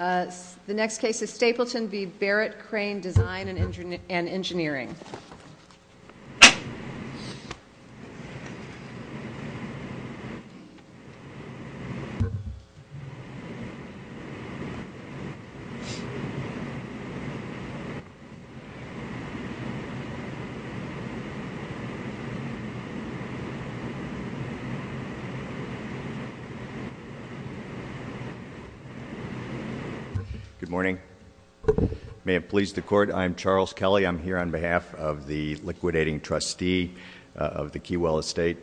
The next case is Stapleton v. Barrett Crane, Design and Engineering. Good morning. May it please the Court, I'm Charles Kelly. I'm here on behalf of the liquidating trustee of the Keywell Estate,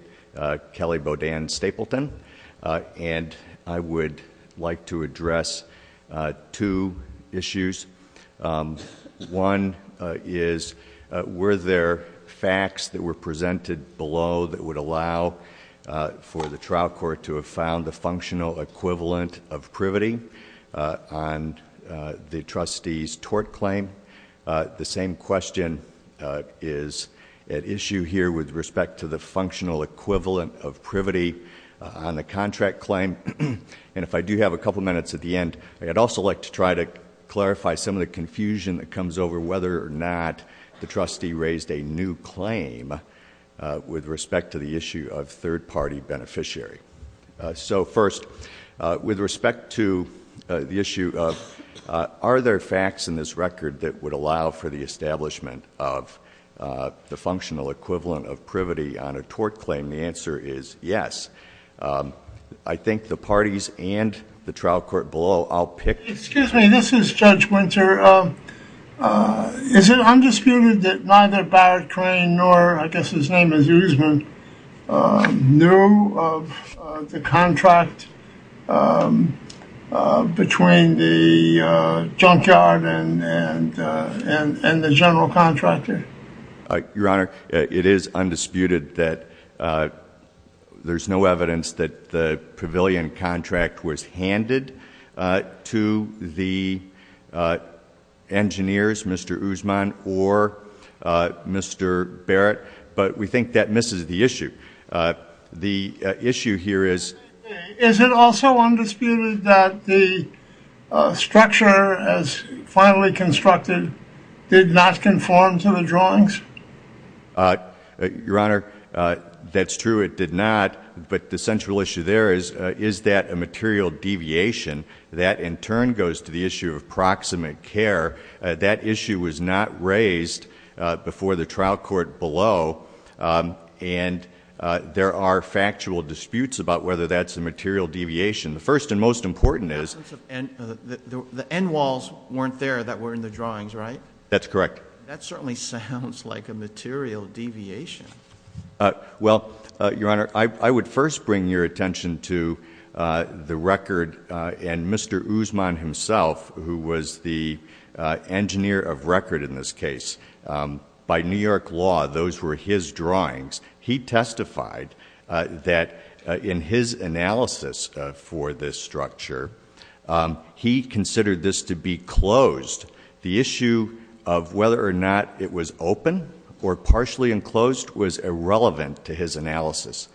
Kelly Bodan Stapleton, and I would like to address two issues. One is were there facts that were presented below that would allow for the trial court to have found the functional equivalent of privity on the trustee's tort claim? The same question is at issue here with respect to the functional equivalent of privity on the contract claim. And if I do have a couple minutes at the end, I'd also like to try to clarify some of the confusion that comes over whether or not the trustee raised a new claim with respect to the issue of third-party beneficiary. So first, with respect to the issue of are there facts in this record that would allow for the establishment of the functional equivalent of privity on a tort claim, the answer is yes. I think the parties and the trial court below all picked... Excuse me, this is Judge Winter. Is it undisputed that neither Barrett Crane nor, I guess his name is Usman, knew of the contract between the junkyard and the general contractor? Your Honor, it is undisputed that there's no evidence that the pavilion contract was handed to the engineers, Mr. Usman or Mr. Barrett, but we think that misses the issue. The issue here is... Is it also undisputed that the structure, as finally constructed, did not conform to the drawings? Your Honor, that's true, it did not, but the central issue there is, is that a material deviation? That, in turn, goes to the issue of proximate care. That issue was not raised before the trial court below, and there are factual disputes about whether that's a material deviation. The first and most important is... The end walls weren't there that were in the drawings, right? That's correct. That certainly sounds like a material deviation. Well, Your Honor, I would first bring your attention to the record, and Mr. Usman himself, who was the engineer of record in this case, by New York law, those were his drawings. He testified that in his analysis for this structure, he considered this to be closed. The issue of whether or not it was open or partially enclosed was irrelevant to his analysis.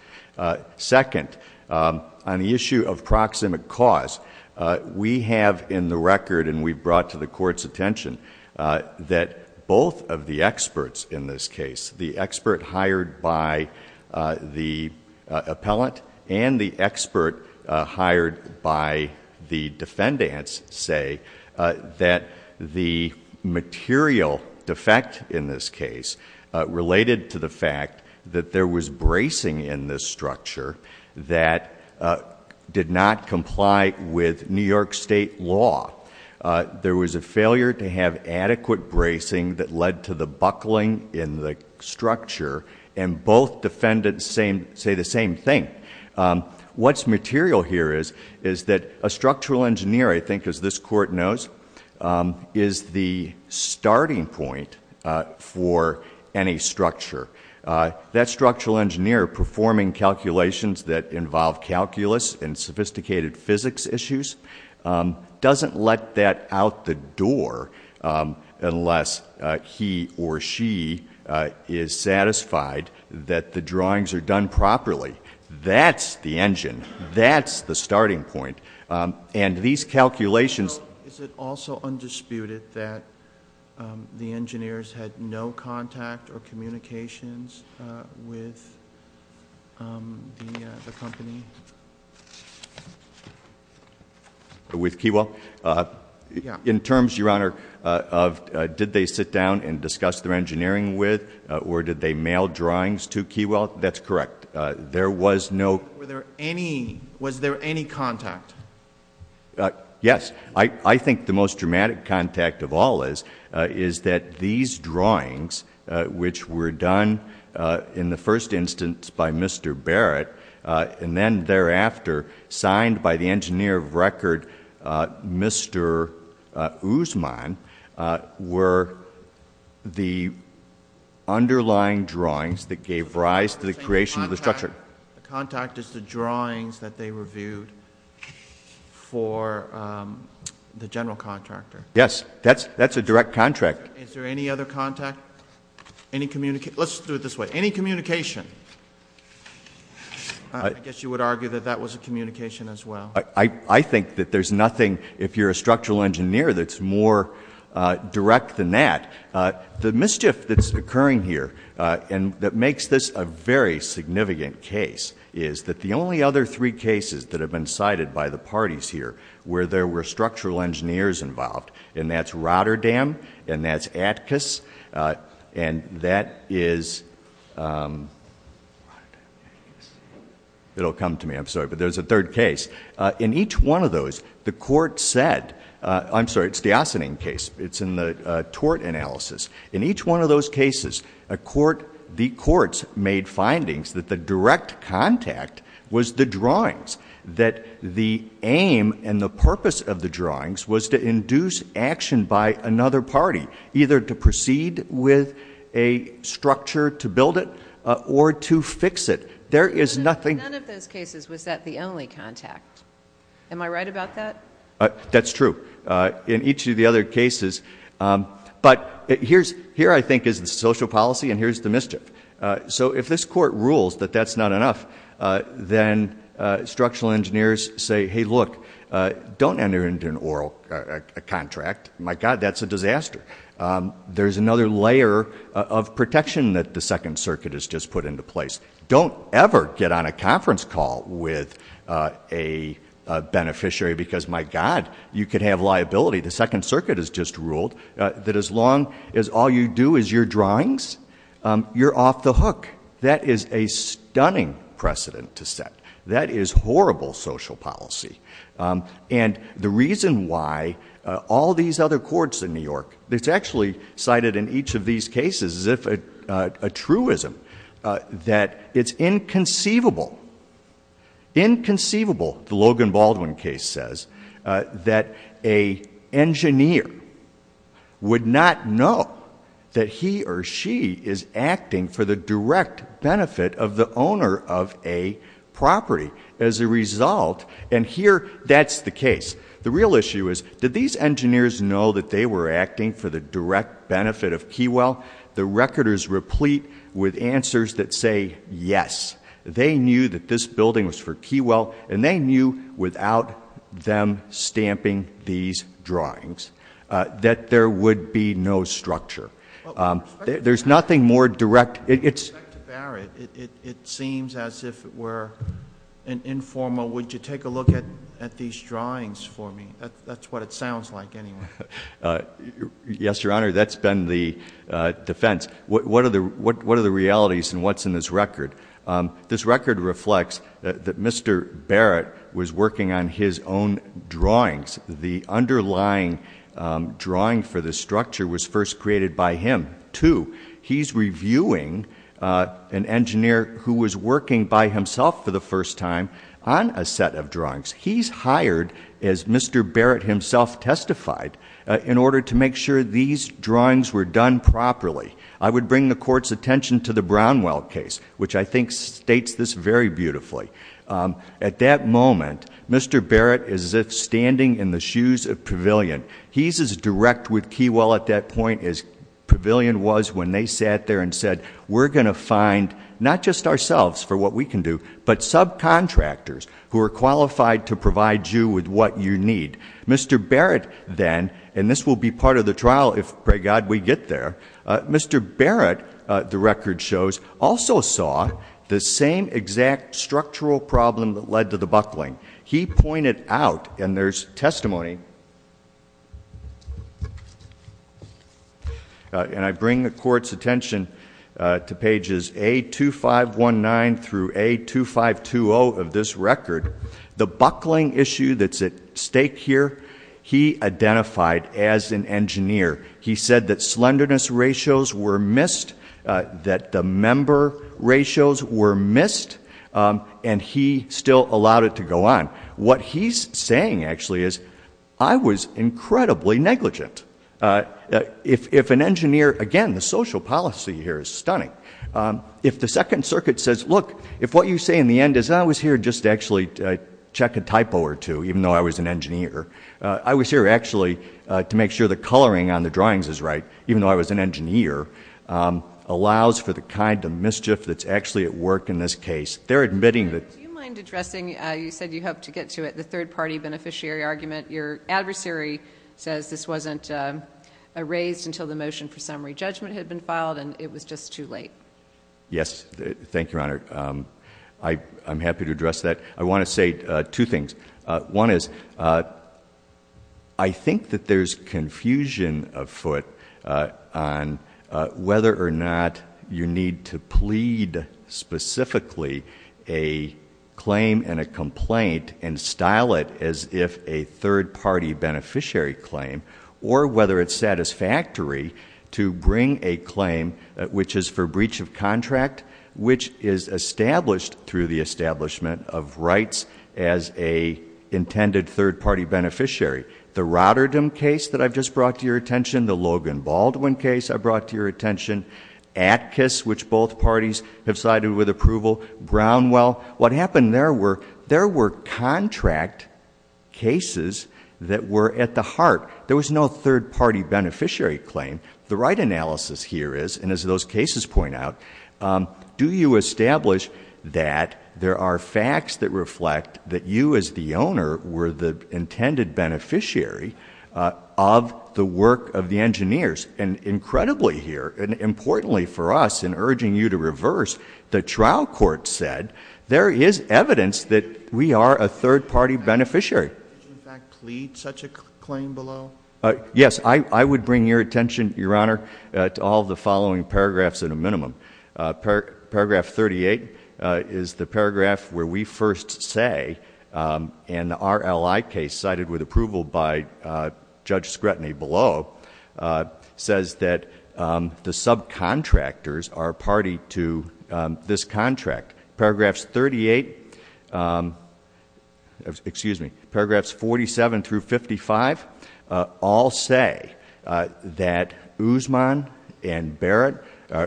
Second, on the issue of proximate cause, we have in the record, and we brought to the court's attention, that both of the experts in this case, the expert hired by the appellant, and the expert hired by the defendants, say that the material defect in this case related to the fact that there was bracing in this structure that did not comply with New York State law. There was a failure to have adequate bracing that led to the buckling in the structure, and both defendants say the same thing. What's material here is that a structural engineer, I think as this court knows, is the starting point for any structure. That structural engineer performing calculations that involve calculus and sophisticated physics issues, doesn't let that out the door unless he or she is satisfied that the drawings are done properly. That's the engine. That's the starting point, and these calculations- With the company? With Keywell? In terms, Your Honor, did they sit down and discuss their engineering with, or did they mail drawings to Keywell? That's correct. There was no- Was there any contact? Yes. I think the most dramatic contact of all is that these drawings, which were done in the first instance by Mr. Barrett, and then thereafter signed by the engineer of record, Mr. Usman, were the underlying drawings that gave rise to the creation of the structure. The contact is the drawings that they reviewed for the general contractor. Yes. That's a direct contact. Is there any other contact? Any communication? Let's do it this way. Any communication? I guess you would argue that that was a communication as well. I think that there's nothing, if you're a structural engineer, that's more direct than that. The mischief that's occurring here, and that makes this a very significant case, is that the only other three cases that have been cited by the parties here where there were structural engineers involved, and that's Rotterdam, and that's ATCAS, and that is- Rotterdam, ATCAS. It'll come to me, I'm sorry, but there's a third case. In each one of those, the court said- I'm sorry, it's the Ossining case. It's in the tort analysis. In each one of those cases, the courts made findings that the direct contact was the drawings, that the aim and the purpose of the drawings was to induce action by another party, either to proceed with a structure to build it or to fix it. There is nothing- In none of those cases was that the only contact. Am I right about that? That's true. In each of the other cases. But here, I think, is the social policy, and here's the mischief. So if this court rules that that's not enough, then structural engineers say, hey, look, don't enter into an oral contract. My God, that's a disaster. There's another layer of protection that the Second Circuit has just put into place. Don't ever get on a conference call with a beneficiary because, my God, you could have liability. The Second Circuit has just ruled that as long as all you do is your drawings, you're off the hook. That is a stunning precedent to set. That is horrible social policy. And the reason why all these other courts in New York- It's actually cited in each of these cases as if a truism, that it's inconceivable, inconceivable, the Logan-Baldwin case says, that an engineer would not know that he or she is acting for the direct benefit of the owner of a property. As a result, and here, that's the case. The real issue is, did these engineers know that they were acting for the direct benefit of Keywell? The recorders replete with answers that say, yes, they knew that this building was for Keywell, and they knew without them stamping these drawings that there would be no structure. There's nothing more direct- Back to Barrett. It seems as if we're informal. Would you take a look at these drawings for me? That's what it sounds like anyway. Yes, Your Honor. That's been the defense. What are the realities and what's in this record? This record reflects that Mr. Barrett was working on his own drawings. The underlying drawing for the structure was first created by him, too. He's reviewing an engineer who was working by himself for the first time on a set of drawings. He's hired, as Mr. Barrett himself testified, in order to make sure these drawings were done properly. I would bring the Court's attention to the Brownwell case, which I think states this very beautifully. At that moment, Mr. Barrett is as if standing in the shoes of Pavilion. He's as direct with Keywell at that point as Pavilion was when they sat there and said, we're going to find not just ourselves for what we can do, but subcontractors who are qualified to provide you with what you need. Mr. Barrett then, and this will be part of the trial if, pray God, we get there, Mr. Barrett, the record shows, also saw the same exact structural problem that led to the buckling. He pointed out, and there's testimony, and I bring the Court's attention to pages A2519 through A2520 of this record, the buckling issue that's at stake here, he identified as an engineer. He said that slenderness ratios were missed, that the member ratios were missed, and he still allowed it to go on. What he's saying, actually, is I was incredibly negligent. If an engineer, again, the social policy here is stunning. If the Second Circuit says, look, if what you say in the end is, I was here just to actually check a typo or two, even though I was an engineer, I was here actually to make sure the coloring on the drawings is right, even though I was an engineer, allows for the kind of mischief that's actually at work in this case. They're admitting that. Do you mind addressing, you said you hoped to get to it, the third-party beneficiary argument. Your adversary says this wasn't raised until the motion for summary judgment had been filed, and it was just too late. Yes. Thank you, Your Honor. I'm happy to address that. I want to say two things. One is, I think that there's confusion afoot on whether or not you need to plead specifically a claim and a complaint and style it as if a third-party beneficiary claim, or whether it's satisfactory to bring a claim which is for breach of contract, which is established through the establishment of rights as an intended third-party beneficiary. The Rotterdam case that I've just brought to your attention, the Logan Baldwin case I brought to your attention, ATKIS, which both parties have sided with approval, Brownwell, what happened there were contract cases that were at the heart. There was no third-party beneficiary claim. The right analysis here is, and as those cases point out, do you establish that there are facts that reflect that you as the owner were the intended beneficiary of the work of the engineers? Incredibly here, and importantly for us in urging you to reverse, the trial court said there is evidence that we are a third-party beneficiary. Did you, in fact, plead such a claim below? Yes. I would bring your attention, Your Honor, to all the following paragraphs in a minimum. Paragraph 38 is the paragraph where we first say, and the RLI case cited with approval by Judge Scretany below, says that the subcontractors are party to this contract. Paragraphs 47 through 55 all say that Usman and Barrett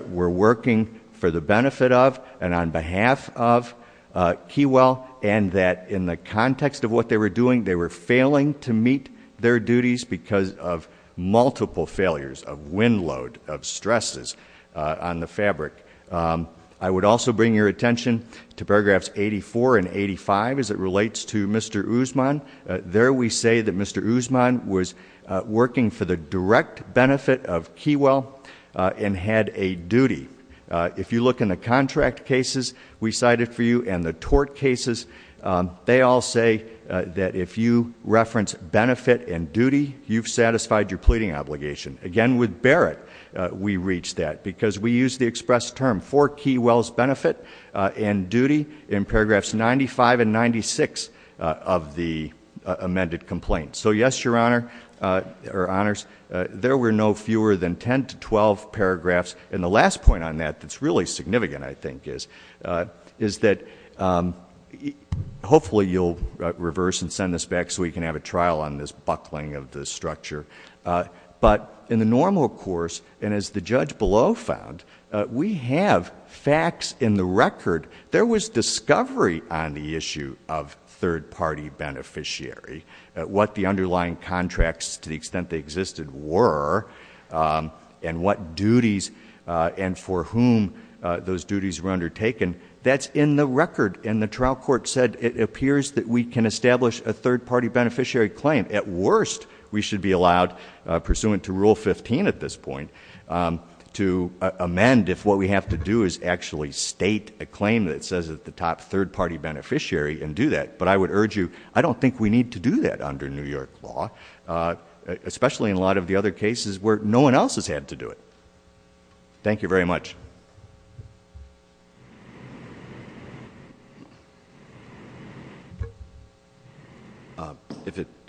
were working for the benefit of and on behalf of Keywell, and that in the context of what they were doing, they were failing to meet their duties because of multiple failures, of wind load, of stresses on the fabric. I would also bring your attention to paragraphs 84 and 85 as it relates to Mr. Usman. There we say that Mr. Usman was working for the direct benefit of Keywell and had a duty. If you look in the contract cases we cited for you and the tort cases, they all say that if you reference benefit and duty, you've satisfied your pleading obligation. Again, with Barrett, we reached that because we used the express term for Keywell's benefit and duty in paragraphs 95 and 96 of the amended complaint. So yes, Your Honor, or Honors, there were no fewer than 10 to 12 paragraphs. And the last point on that that's really significant, I think, is that hopefully you'll reverse and send this back so we can have a trial on this buckling of the structure. But in the normal course, and as the judge below found, we have facts in the record. There was discovery on the issue of third-party beneficiary, what the underlying contracts, to the extent they existed, were, and what duties and for whom those duties were undertaken. That's in the record, and the trial court said it appears that we can establish a third-party beneficiary claim. At worst, we should be allowed, pursuant to Rule 15 at this point, to amend if what we have to do is actually state a claim that says that the top third-party beneficiary and do that. But I would urge you, I don't think we need to do that under New York law, especially in a lot of the other cases where no one else has had to do it. Thank you very much.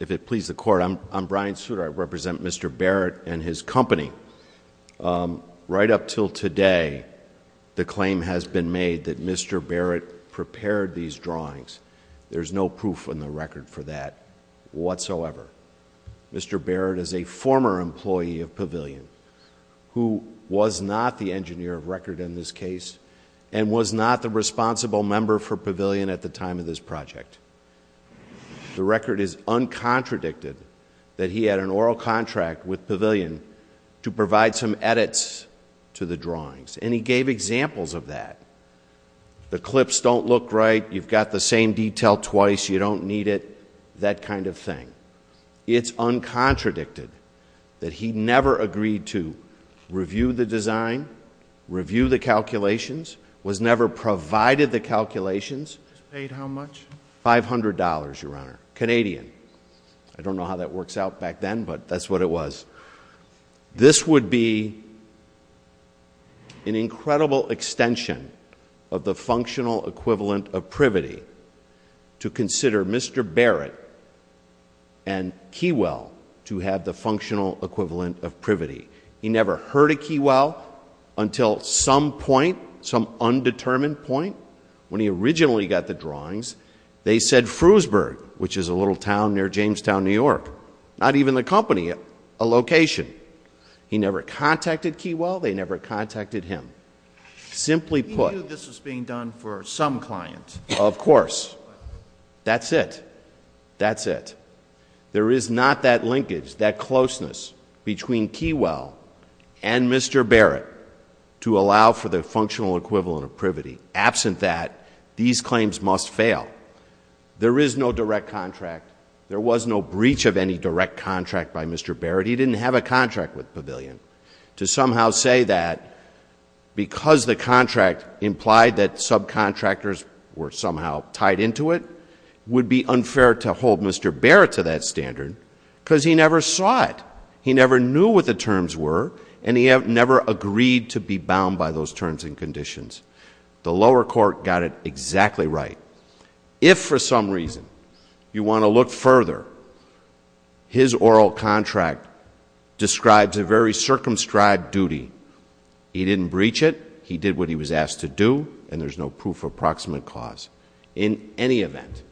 If it pleases the Court, I'm Brian Souter. I represent Mr. Barrett and his company. Right up until today, the claim has been made that Mr. Barrett prepared these drawings. There's no proof in the record for that whatsoever. Mr. Barrett is a former employee of Pavilion, who was not the engineer of record in this case, and was not the responsible member for Pavilion at the time of this project. The record is uncontradicted that he had an oral contract with Pavilion to provide some edits to the drawings, and he gave examples of that. The clips don't look right. You've got the same detail twice. You don't need it. That kind of thing. It's uncontradicted that he never agreed to review the design, review the calculations, was never provided the calculations. Paid how much? $500, Your Honor. Canadian. I don't know how that works out back then, but that's what it was. This would be an incredible extension of the functional equivalent of privity to consider Mr. Barrett and Keywell to have the functional equivalent of privity. He never heard of Keywell until some point, some undetermined point, when he originally got the drawings, they said Frewsburg, which is a little town near Jamestown, New York, not even the company, a location. He never contacted Keywell. They never contacted him. Simply put. He knew this was being done for some client. Of course. That's it. That's it. There is not that linkage, that closeness between Keywell and Mr. Barrett to allow for the functional equivalent of privity. Absent that, these claims must fail. There is no direct contract. There was no breach of any direct contract by Mr. Barrett. He didn't have a contract with Pavilion. To somehow say that because the contract implied that subcontractors were somehow tied into it would be unfair to hold Mr. Barrett to that standard because he never saw it. He never knew what the terms were, and he never agreed to be bound by those terms and conditions. The lower court got it exactly right. If for some reason you want to look further, his oral contract describes a very circumscribed duty. He didn't breach it. He did what he was asked to do, and there's no proof of proximate cause. In any event,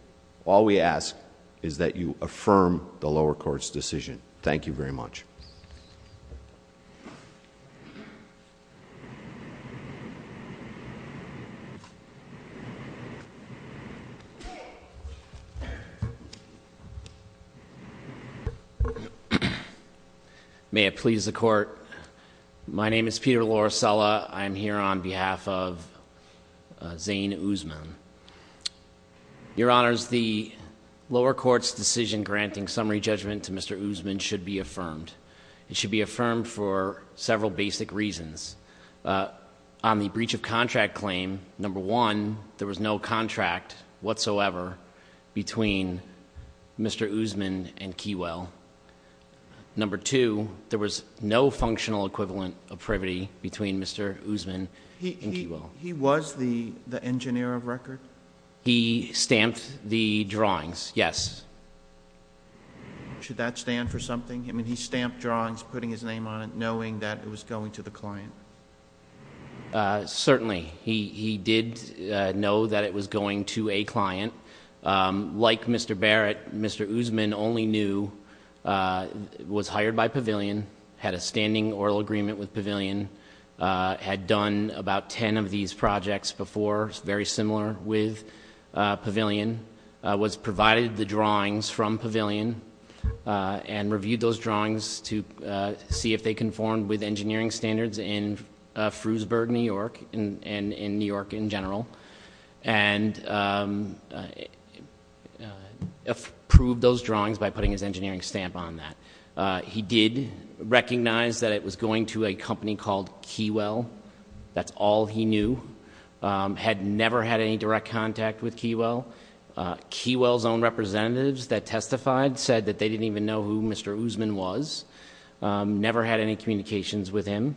all we ask is that you affirm the lower court's decision. Thank you very much. May it please the court. My name is Peter Lorisella. I am here on behalf of Zane Usman. Your honors, the lower court's decision granting summary judgment to Mr. Usman should be affirmed. It should be affirmed for several basic reasons. On the breach of contract claim, number one, there was no contract whatsoever between Mr. Usman and Keywell. Number two, there was no functional equivalent of privity between Mr. Usman and Keywell. He was the engineer of record? He stamped the drawings, yes. Should that stand for something? I mean, he stamped drawings, putting his name on it, knowing that it was going to the client. Certainly. He did know that it was going to a client. Like Mr. Barrett, Mr. Usman only knew, was hired by Pavilion, had a standing oral agreement with Pavilion, had done about ten of these projects before, very similar with Pavilion, was provided the drawings from Pavilion and reviewed those drawings to see if they conformed with engineering standards in Frewsburg, New York, and in New York in general, and approved those drawings by putting his engineering stamp on that. He did recognize that it was going to a company called Keywell. That's all he knew. Had never had any direct contact with Keywell. Keywell's own representatives that testified said that they didn't even know who Mr. Usman was. Never had any communications with him.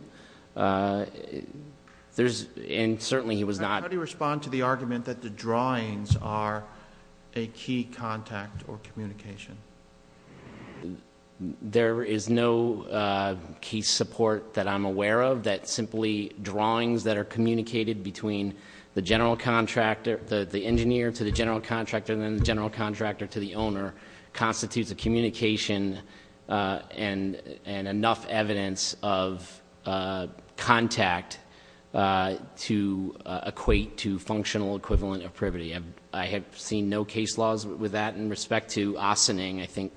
There's, and certainly he was not. How do you respond to the argument that the drawings are a key contact or communication? There is no case support that I'm aware of that simply drawings that are communicated between the general contractor, the engineer to the general contractor, and then the general contractor to the owner, constitutes a communication and enough evidence of contact to equate to functional equivalent of privity. I have seen no case laws with that. In respect to Ossining, I think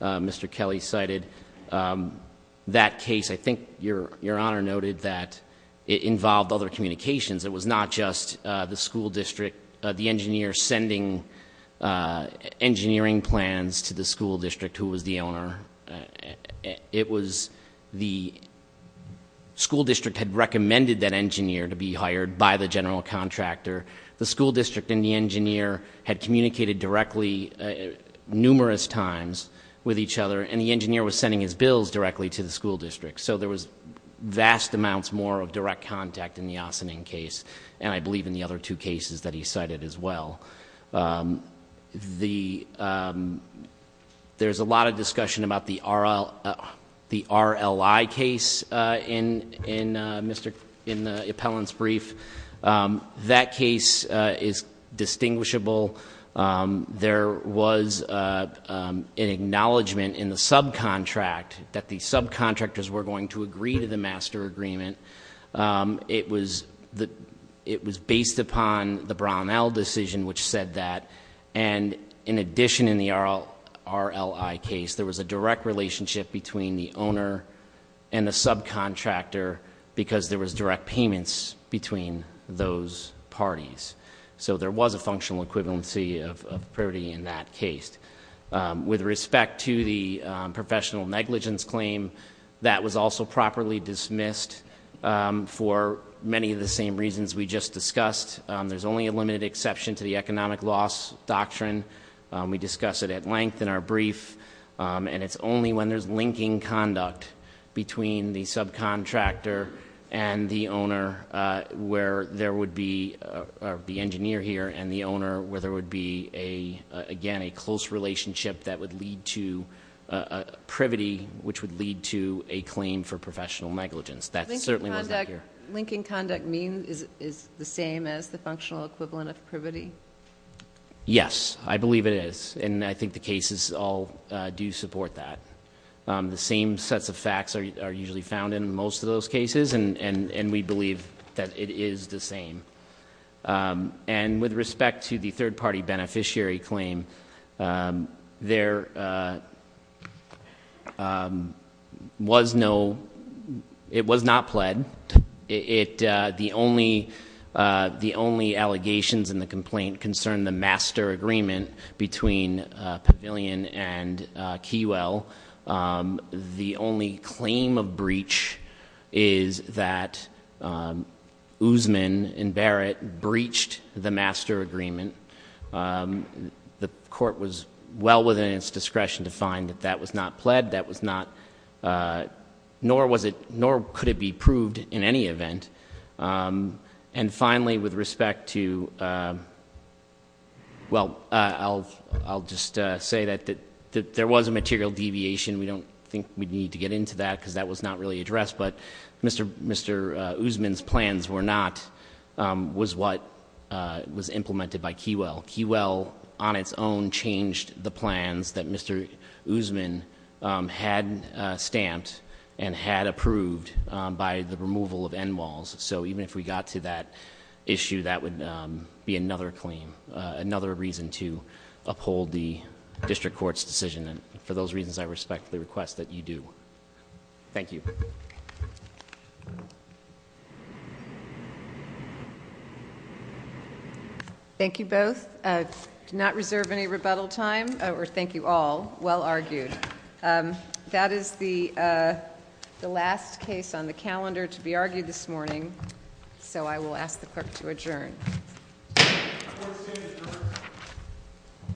Mr. Kelly cited that case. I think Your Honor noted that it involved other communications. It was not just the school district, the engineer sending engineering plans to the school district who was the owner. It was the school district had recommended that engineer to be hired by the general contractor. The school district and the engineer had communicated directly numerous times with each other, and the engineer was sending his bills directly to the school district. So there was vast amounts more of direct contact in the Ossining case, and I believe in the other two cases that he cited as well. There's a lot of discussion about the RLI case in the appellant's brief. That case is distinguishable. There was an acknowledgement in the subcontract that the subcontractors were going to agree to the master agreement. It was based upon the Brownell decision which said that. And in addition in the RLI case, there was a direct relationship between the owner and the subcontractor because there was direct payments between those parties. So there was a functional equivalency of parity in that case. With respect to the professional negligence claim, that was also properly dismissed for many of the same reasons we just discussed. There's only a limited exception to the economic loss doctrine. We discuss it at length in our brief. And it's only when there's linking conduct between the subcontractor and the owner where there would be, or the engineer here and the owner, where there would be, again, a close relationship that would lead to privity, which would lead to a claim for professional negligence. That certainly wasn't here. Linking conduct is the same as the functional equivalent of privity? Yes, I believe it is. And I think the cases all do support that. The same sets of facts are usually found in most of those cases, and we believe that it is the same. And with respect to the third-party beneficiary claim, there was no, it was not pled. The only allegations in the complaint concern the master agreement between Pavilion and Keywell. The only claim of breach is that Usman and Barrett breached the master agreement. The court was well within its discretion to find that that was not pled. That was not, nor could it be proved in any event. And finally, with respect to, well, I'll just say that there was a material deviation. We don't think we need to get into that because that was not really addressed. But Mr. Usman's plans were not, was what was implemented by Keywell. Keywell, on its own, changed the plans that Mr. Usman had stamped and had approved by the removal of end walls. So even if we got to that issue, that would be another claim, another reason to uphold the district court's decision. And for those reasons, I respectfully request that you do. Thank you. Thank you. Thank you both. Do not reserve any rebuttal time, or thank you all. Well argued. That is the last case on the calendar to be argued this morning, so I will ask the clerk to adjourn.